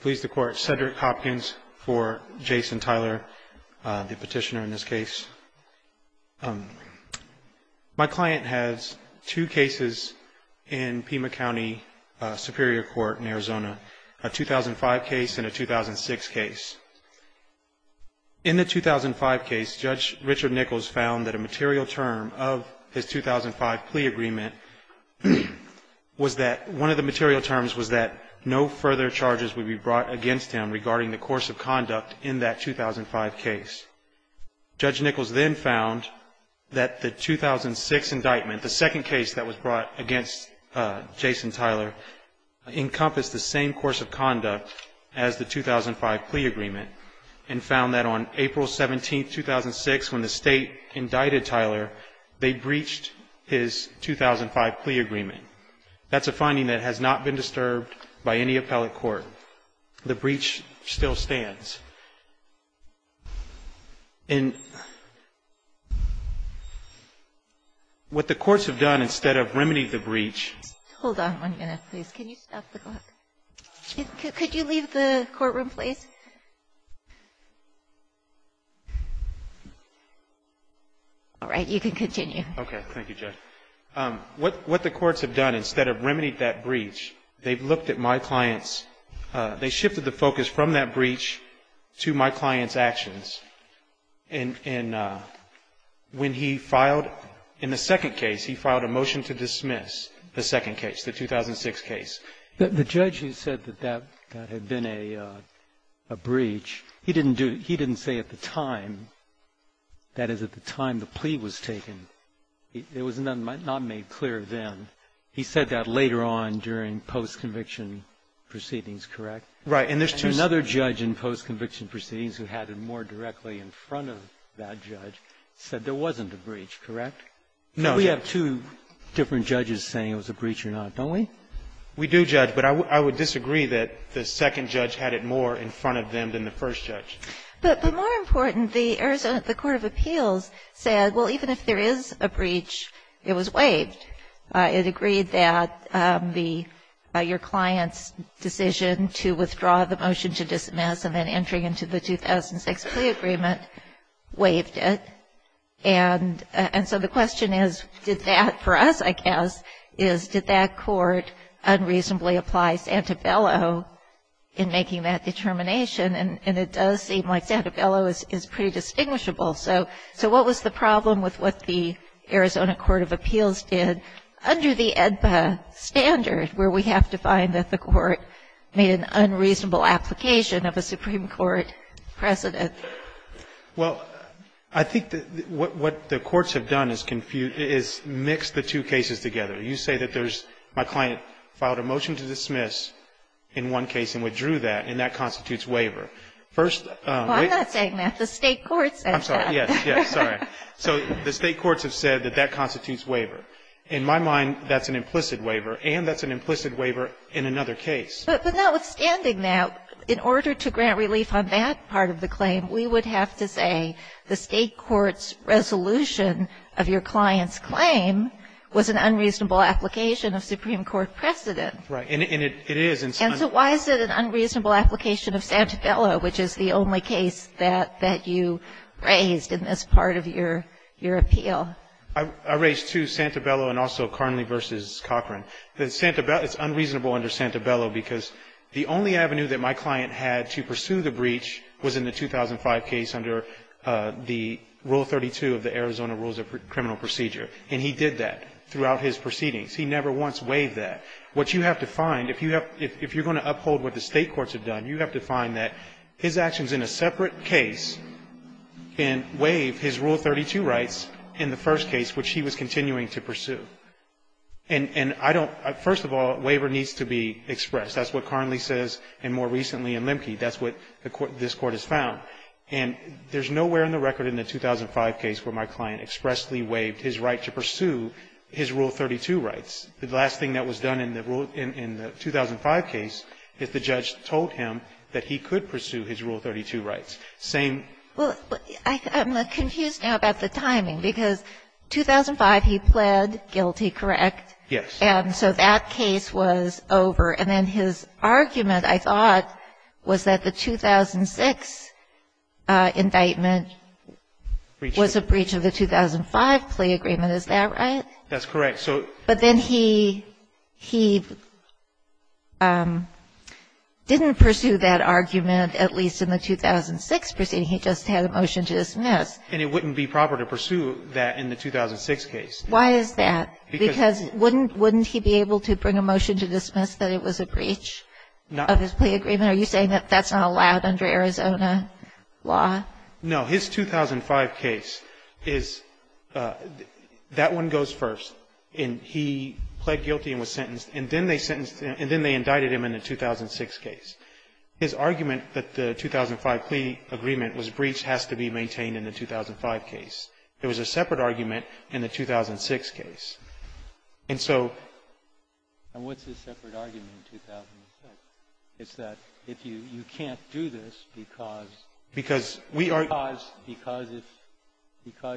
Please the court, Cedric Hopkins for Jason Tyler, the petitioner in this case. My client has two cases in Pima County Superior Court in Arizona, a 2005 case and a 2006 case. In the 2005 case, Judge Richard Nichols found that a material term of his 2005 plea agreement was that one of the material terms was that no further charges would be brought against him regarding the course of conduct in that 2005 case. Judge Nichols then found that the 2006 indictment, the second case that was brought against Jason Tyler, encompassed the same course of conduct as the 2005 plea agreement. And found that on April 17, 2006, when the state indicted Tyler, they breached his 2005 plea agreement. That's a finding that has not been disturbed by any appellate court. The breach still stands. And what the courts have done instead of remedying the breach... One minute, please. Can you stop the clock? Could you leave the courtroom, please? All right. You can continue. Okay. Thank you, Judge. What the courts have done instead of remedying that breach, they've looked at my client's... They shifted the focus from that breach to my client's actions. And when he filed... In the second case, he filed a motion to dismiss the second case, the 2005 case. The judge who said that that had been a breach, he didn't say at the time, that is, at the time the plea was taken. It was not made clear then. He said that later on during post-conviction proceedings, correct? Right. And there's two... And another judge in post-conviction proceedings who had it more directly in front of that judge said there wasn't a breach, correct? No. We have two different judges saying it was a breach or not, don't we? We do, Judge. But I would disagree that the second judge had it more in front of them than the first judge. But more important, the Arizona Court of Appeals said, well, even if there is a breach, it was waived. It agreed that your client's decision to withdraw the motion to dismiss and then entering into the 2006 plea agreement waived it. And so the question is, did that for us, I guess, is did that court unreasonably apply Santabello in making that determination? And it does seem like Santabello is pretty distinguishable. So what was the problem with what the Arizona Court of Appeals did under the AEDPA standard where we have to find that the court made an unreasonable application of a Supreme Court precedent? Well, I think what the courts have done is mix the two cases together. You say that there's my client filed a motion to dismiss in one case and withdrew that, and that constitutes waiver. First of all, I'm not saying that. The State courts said that. I'm sorry. Yes. Yes. Sorry. So the State courts have said that that constitutes waiver. In my mind, that's an implicit waiver, and that's an implicit waiver in another case. But notwithstanding that, in order to grant relief on that part of the claim, we would have to say the State court's resolution of your client's claim was an unreasonable application of Supreme Court precedent. Right. And it is. And so why is it an unreasonable application of Santabello, which is the only case that you raised in this part of your appeal? I raised two, Santabello and also Carnley v. Cochran. It's unreasonable under Santabello because the only avenue that my client had to pursue the breach was in the 2005 case under the Rule 32 of the Arizona Rules of Criminal Procedure. And he did that throughout his proceedings. He never once waived that. What you have to find, if you're going to uphold what the State courts have done, you have to find that his actions in a separate case can waive his Rule 32 rights in the first case, which he was continuing to pursue. And I don't — first of all, waiver needs to be expressed. That's what Carnley says, and more recently in Lemke. That's what this Court has found. And there's nowhere in the record in the 2005 case where my client expressly waived his right to pursue his Rule 32 rights. The last thing that was done in the Rule — in the 2005 case is the judge told him that he could pursue his Rule 32 rights. Same — I'm confused now about the timing, because 2005 he pled guilty, correct? Yes. And so that case was over. And then his argument, I thought, was that the 2006 indictment was a breach of the 2005 plea agreement. Is that right? That's correct. But then he didn't pursue that argument, at least in the 2006 proceeding. He just had a motion to dismiss. And it wouldn't be proper to pursue that in the 2006 case. Why is that? Because wouldn't he be able to bring a motion to dismiss that it was a breach of his plea agreement? Are you saying that that's not allowed under Arizona law? No. His 2005 case is — that one goes first, and he pled guilty and was sentenced, and then they sentenced — and then they indicted him in the 2006 case. His argument that the 2005 plea agreement was breach has to be maintained in the 2005 case. There was a separate argument in the 2006 case. And so — And what's the separate argument in 2006? It's that if you — you can't do this because — Because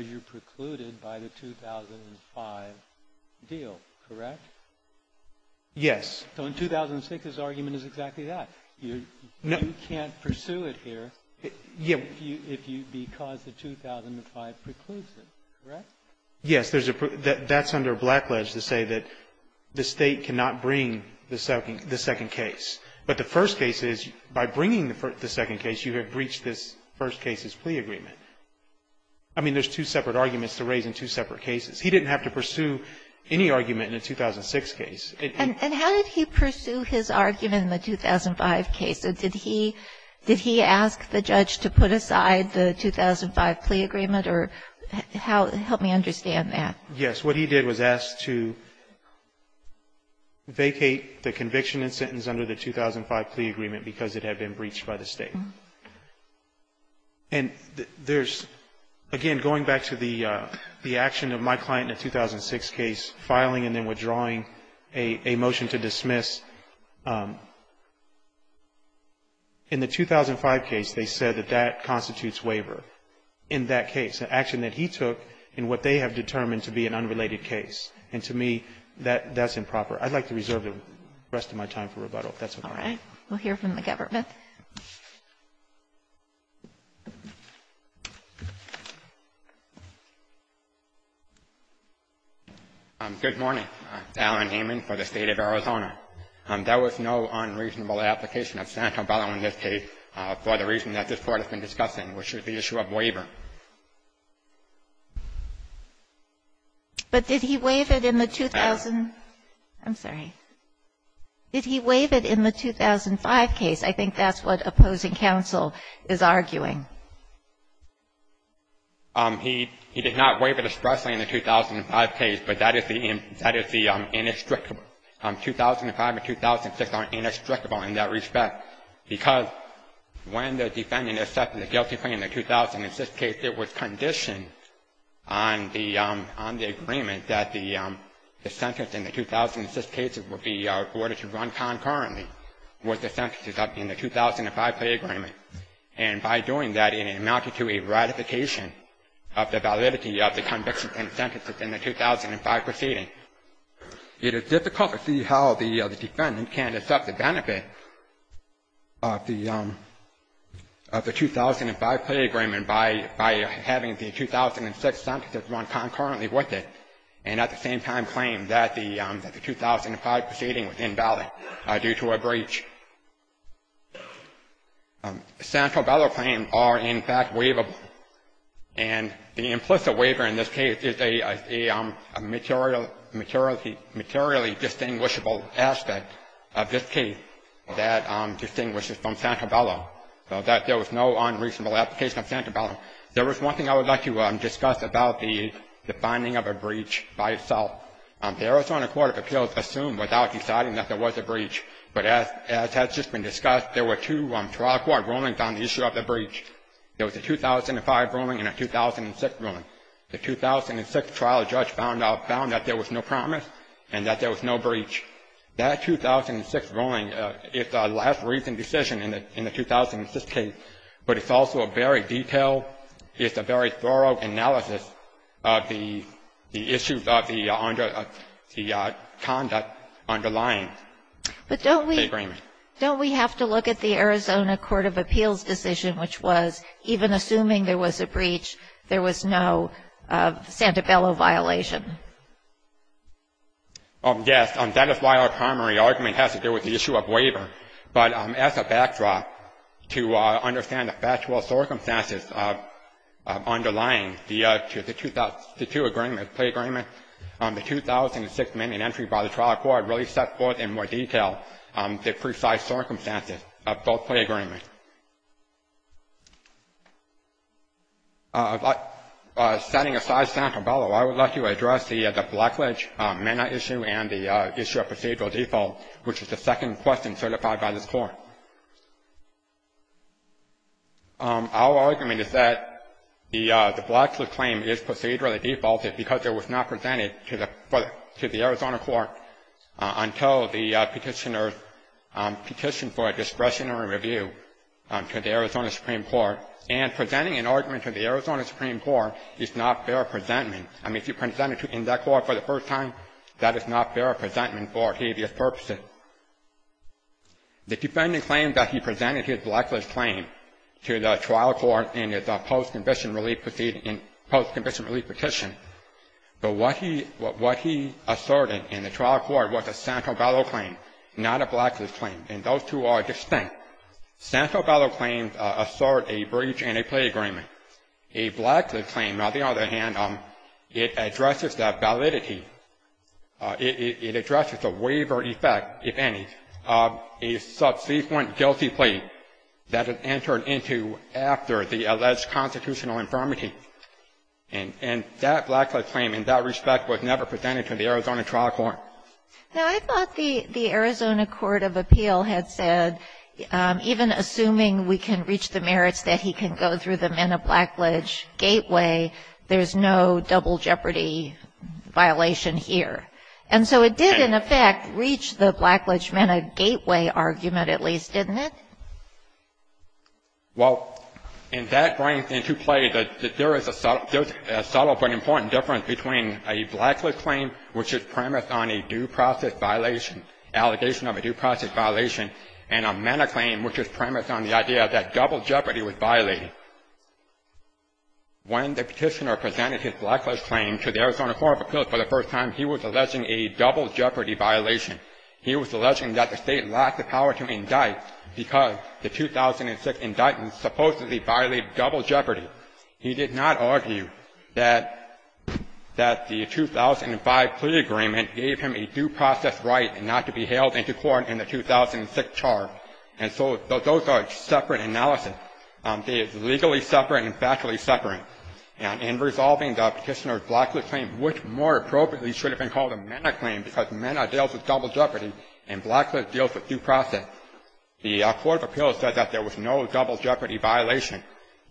you're precluded by the 2005 deal, correct? Yes. So in 2006, his argument is exactly that. You can't pursue it here if you — because the 2005 precludes it, correct? Yes. There's a — that's under a blackledge to say that the State cannot bring the second case. But the first case is, by bringing the second case, you have breached this first case's plea agreement. I mean, there's two separate arguments to raise in two separate cases. He didn't have to pursue any argument in the 2006 case. And how did he pursue his argument in the 2005 case? Did he — did he ask the judge to put aside the 2005 plea agreement, or how — help me understand that. Yes. What he did was ask to vacate the conviction and sentence under the 2005 plea agreement because it had been breached by the State. And there's — again, going back to the action of my client in the 2006 case, filing and then withdrawing a motion to dismiss, in the 2005 case, they said that that constitutes waiver. In that case, the action that he took in what they have determined to be an unrelated case. And to me, that's improper. I'd like to reserve the rest of my time for rebuttal, if that's okay. All right. We'll hear from the government. Good morning. Alan Hayman for the State of Arizona. There was no unreasonable application of Santa Bella in this case for the reason that this Court has been discussing, which is the issue of waiver. But did he waive it in the 2000 — I'm sorry. Did he waive it in the 2005 case? I think that's what opposing counsel is arguing. He — he did not waive it expressly in the 2005 case, but that is the — that is the inextricable — 2005 and 2006 are inextricable in that respect, because when the case, it was conditioned on the — on the agreement that the sentence in the 2006 case would be ordered to run concurrently with the sentences in the 2005 plea agreement. And by doing that, it amounted to a ratification of the validity of the convictions and sentences in the 2005 proceeding. It is difficult to see how the defendant can accept the benefit of the 2005 plea agreement by having the 2006 sentences run concurrently with it and at the same time claim that the 2005 proceeding was invalid due to a breach. Santa Bella claims are, in fact, waivable. And the implicit waiver in this case is a materially distinguishable aspect of this case. That distinguishes from Santa Bella, that there was no unreasonable application of Santa Bella. There was one thing I would like to discuss about the finding of a breach by itself. The Arizona Court of Appeals assumed without deciding that there was a breach. But as has just been discussed, there were two trial court rulings on the issue of the breach. There was a 2005 ruling and a 2006 ruling. The 2006 trial judge found that there was no promise and that there was no breach. That 2006 ruling is the last recent decision in the 2006 case, but it's also a very detailed, it's a very thorough analysis of the issues of the conduct underlying the agreement. But don't we have to look at the Arizona Court of Appeals decision, which was even assuming there was a breach, there was no Santa Bella violation? Yes. That is why our primary argument has to do with the issue of waiver. But as a backdrop, to understand the factual circumstances underlying the two agreements, the 2006 amendment entry by the trial court really sets forth in more detail the precise circumstances of both plea agreements. Setting aside Santa Bella, I would like to address the Blackledge MENA issue and the issue of procedural default, which is the second question certified by this Court. Our argument is that the Blackledge claim is procedurally defaulted because it was not presented to the Arizona Court until the petitioners petitioned for a discretionary review to the Arizona Supreme Court, and presenting an argument to the Arizona Supreme Court is not fair presentment. I mean, if you present it in that court for the first time, that is not fair presentment for habeas purposes. The defendant claims that he presented his Blackledge claim to the trial court in his post-conviction relief petition, but what he asserted in the trial court was a Santa Bella claim, not a Blackledge claim, and those two are distinct. Santa Bella claims assert a breach in a plea agreement. A Blackledge claim, on the other hand, it addresses the validity, it addresses the waiver effect, if any, of a subsequent guilty plea that is entered into after the alleged constitutional infirmity, and that Blackledge claim in that respect was never presented to the Arizona trial court. Now, I thought the Arizona Court of Appeal had said, even assuming we can reach the merits that he can go through the Mena Blackledge gateway, there's no double jeopardy violation here. And so it did, in effect, reach the Blackledge-Mena gateway argument, at least, didn't it? Well, and that brings into play that there is a subtle but important difference between a Blackledge claim, which is premised on a due process violation, allegation of a due process violation, and a Mena claim, which is premised on the idea that double jeopardy was violated. When the petitioner presented his Blackledge claim to the Arizona Court of Appeal for the first time, he was alleging a double jeopardy violation. He was alleging that the state lacked the power to indict, because the 2006 indictment supposedly violated double jeopardy. He did not argue that the 2005 plea agreement gave him a due process right not to be held into court in the 2006 charge. And so those are separate analyses. They are legally separate and factually separate. And in resolving the petitioner's Blackledge claim, which more appropriately should have been called a Mena claim, because Mena deals with double jeopardy and Blackledge deals with due process, the Court of Appeals said that there was no double jeopardy violation.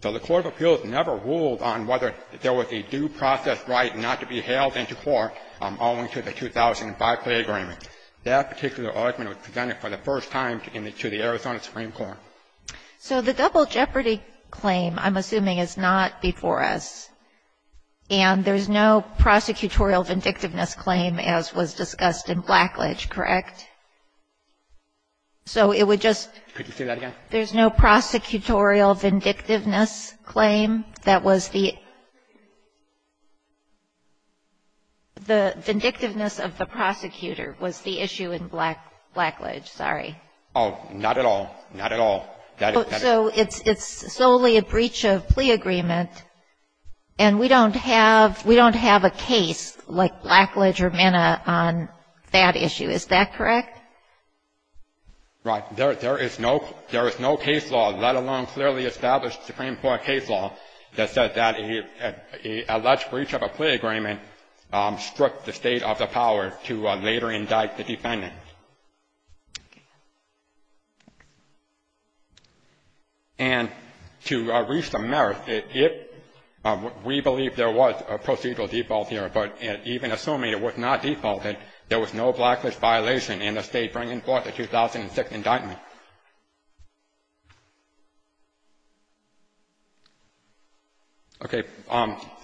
So the Court of Appeals never ruled on whether there was a due process right not to be held into court, owing to the 2005 plea agreement. That particular argument was presented for the first time to the Arizona Supreme Court. So the double jeopardy claim, I'm assuming, is not before us. And there's no prosecutorial vindictiveness claim, as was discussed in Blackledge, correct? So it would just – Could you say that again? There's no prosecutorial vindictiveness claim. That was the – the vindictiveness of the prosecutor was the issue in Blackledge, sorry. Oh, not at all. Not at all. So it's solely a breach of plea agreement, and we don't have a case like Blackledge or Mena on that issue. Is that correct? Right. There is no case law, let alone clearly established Supreme Court case law. That said that an alleged breach of a plea agreement struck the state of the power to later indict the defendant. And to reach the merits, it – we believe there was a procedural default here, but even assuming it was not defaulted, there was no Blackledge violation in the state bringing forth a 2006 indictment. Okay.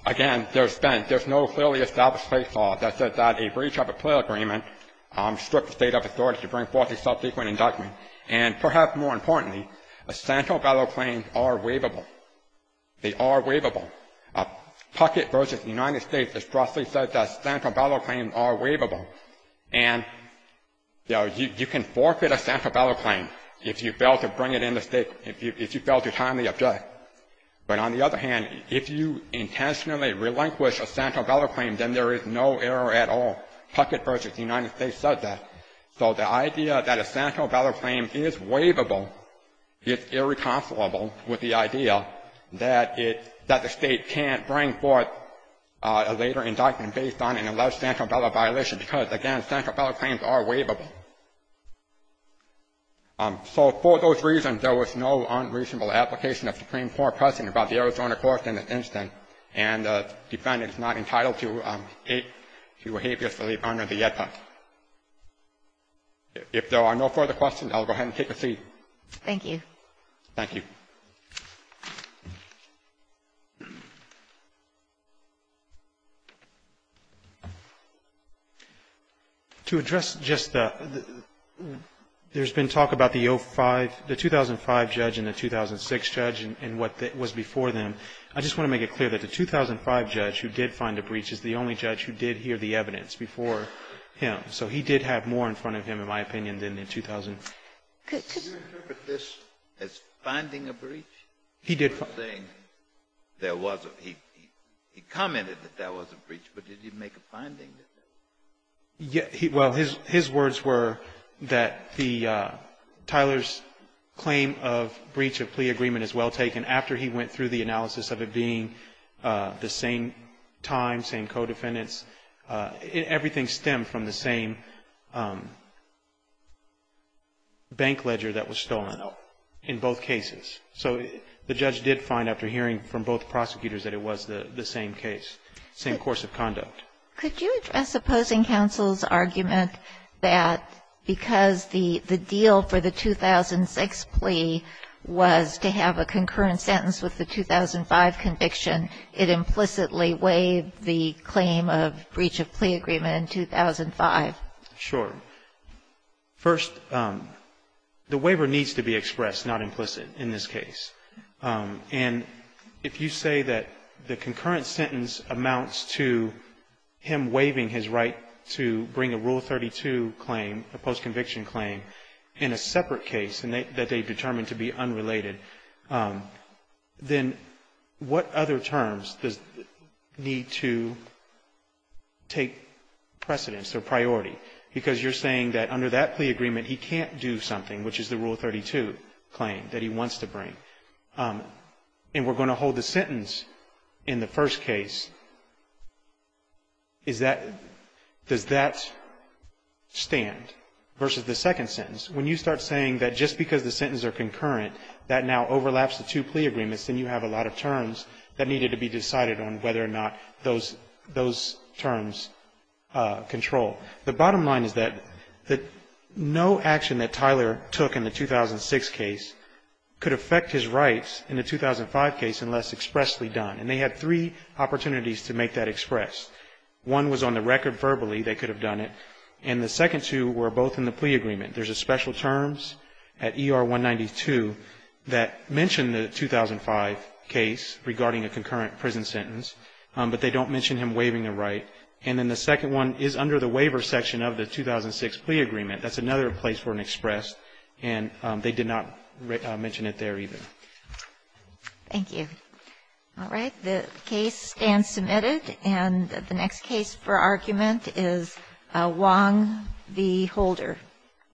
Again, there's been – there's no clearly established case law that said that a breach of a plea agreement struck the state of authority to bring forth a subsequent indictment. And perhaps more importantly, the Santo Belo claims are waivable. They are waivable. Puckett v. United States has strongly said that Santo Belo claims are waivable. And, you know, you can forfeit a Santo Belo claim if you fail to bring it in the state – if you fail to timely object. But on the other hand, if you intentionally relinquish a Santo Belo claim, then there is no error at all. Puckett v. United States says that. So the idea that a Santo Belo claim is waivable is irreconcilable with the idea that it – that the state can't bring forth a later indictment based on an alleged Santo Belo violation, because, again, Santo Belo claims are waivable. So for those reasons, there was no unreasonable application of Supreme Court precedent about the Arizona court in this instance. And the defendant is not entitled to hatefully honor the ethics. If there are no further questions, I'll go ahead and take a seat. Thank you. Thank you. To address just the – there's been talk about the 2005 judge and the 2006 judge and what was before them. I just want to make it clear that the 2005 judge who did find a breach is the only judge who did hear the evidence before him. So he did have more in front of him, in my opinion, than the 2000. Can you interpret this as finding a breach? He did find a breach. He was saying there was a – he commented that there was a breach, but did he make a finding that there was a breach? Well, his words were that the – Tyler's claim of breach of plea agreement is well taken. After he went through the analysis of it being the same time, same co-defendants, everything stemmed from the same bank ledger that was stolen in both cases. So the judge did find after hearing from both prosecutors that it was the same case, same course of conduct. Could you address opposing counsel's argument that because the deal for the 2006 plea was to have a concurrent sentence with the 2005 conviction, it implicitly waived the claim of breach of plea agreement in 2005? Sure. First, the waiver needs to be expressed, not implicit, in this case. And if you say that the concurrent sentence amounts to him waiving his right to bring a Rule 32 claim, a post-conviction claim, in a separate case that they determined to be unrelated, then what other terms does it need to take precedence or priority? Because you're saying that under that plea agreement, he can't do something, which is the Rule 32 claim that he wants to bring. And we're going to hold the sentence in the first case. Does that stand versus the second sentence? When you start saying that just because the sentence are concurrent, that now overlaps the two plea agreements, then you have a lot of terms that needed to be The bottom line is that no action that Tyler took in the 2006 case could affect his rights in the 2005 case unless expressly done. And they had three opportunities to make that express. One was on the record verbally, they could have done it. And the second two were both in the plea agreement. There's a special terms at ER 192 that mention the 2005 case regarding a concurrent prison sentence, but they don't mention him waiving a right. And then the second one is under the waiver section of the 2006 plea agreement. That's another place for an express, and they did not mention it there either. Thank you. All right. The case stands submitted. And the next case for argument is Wong v. Holder.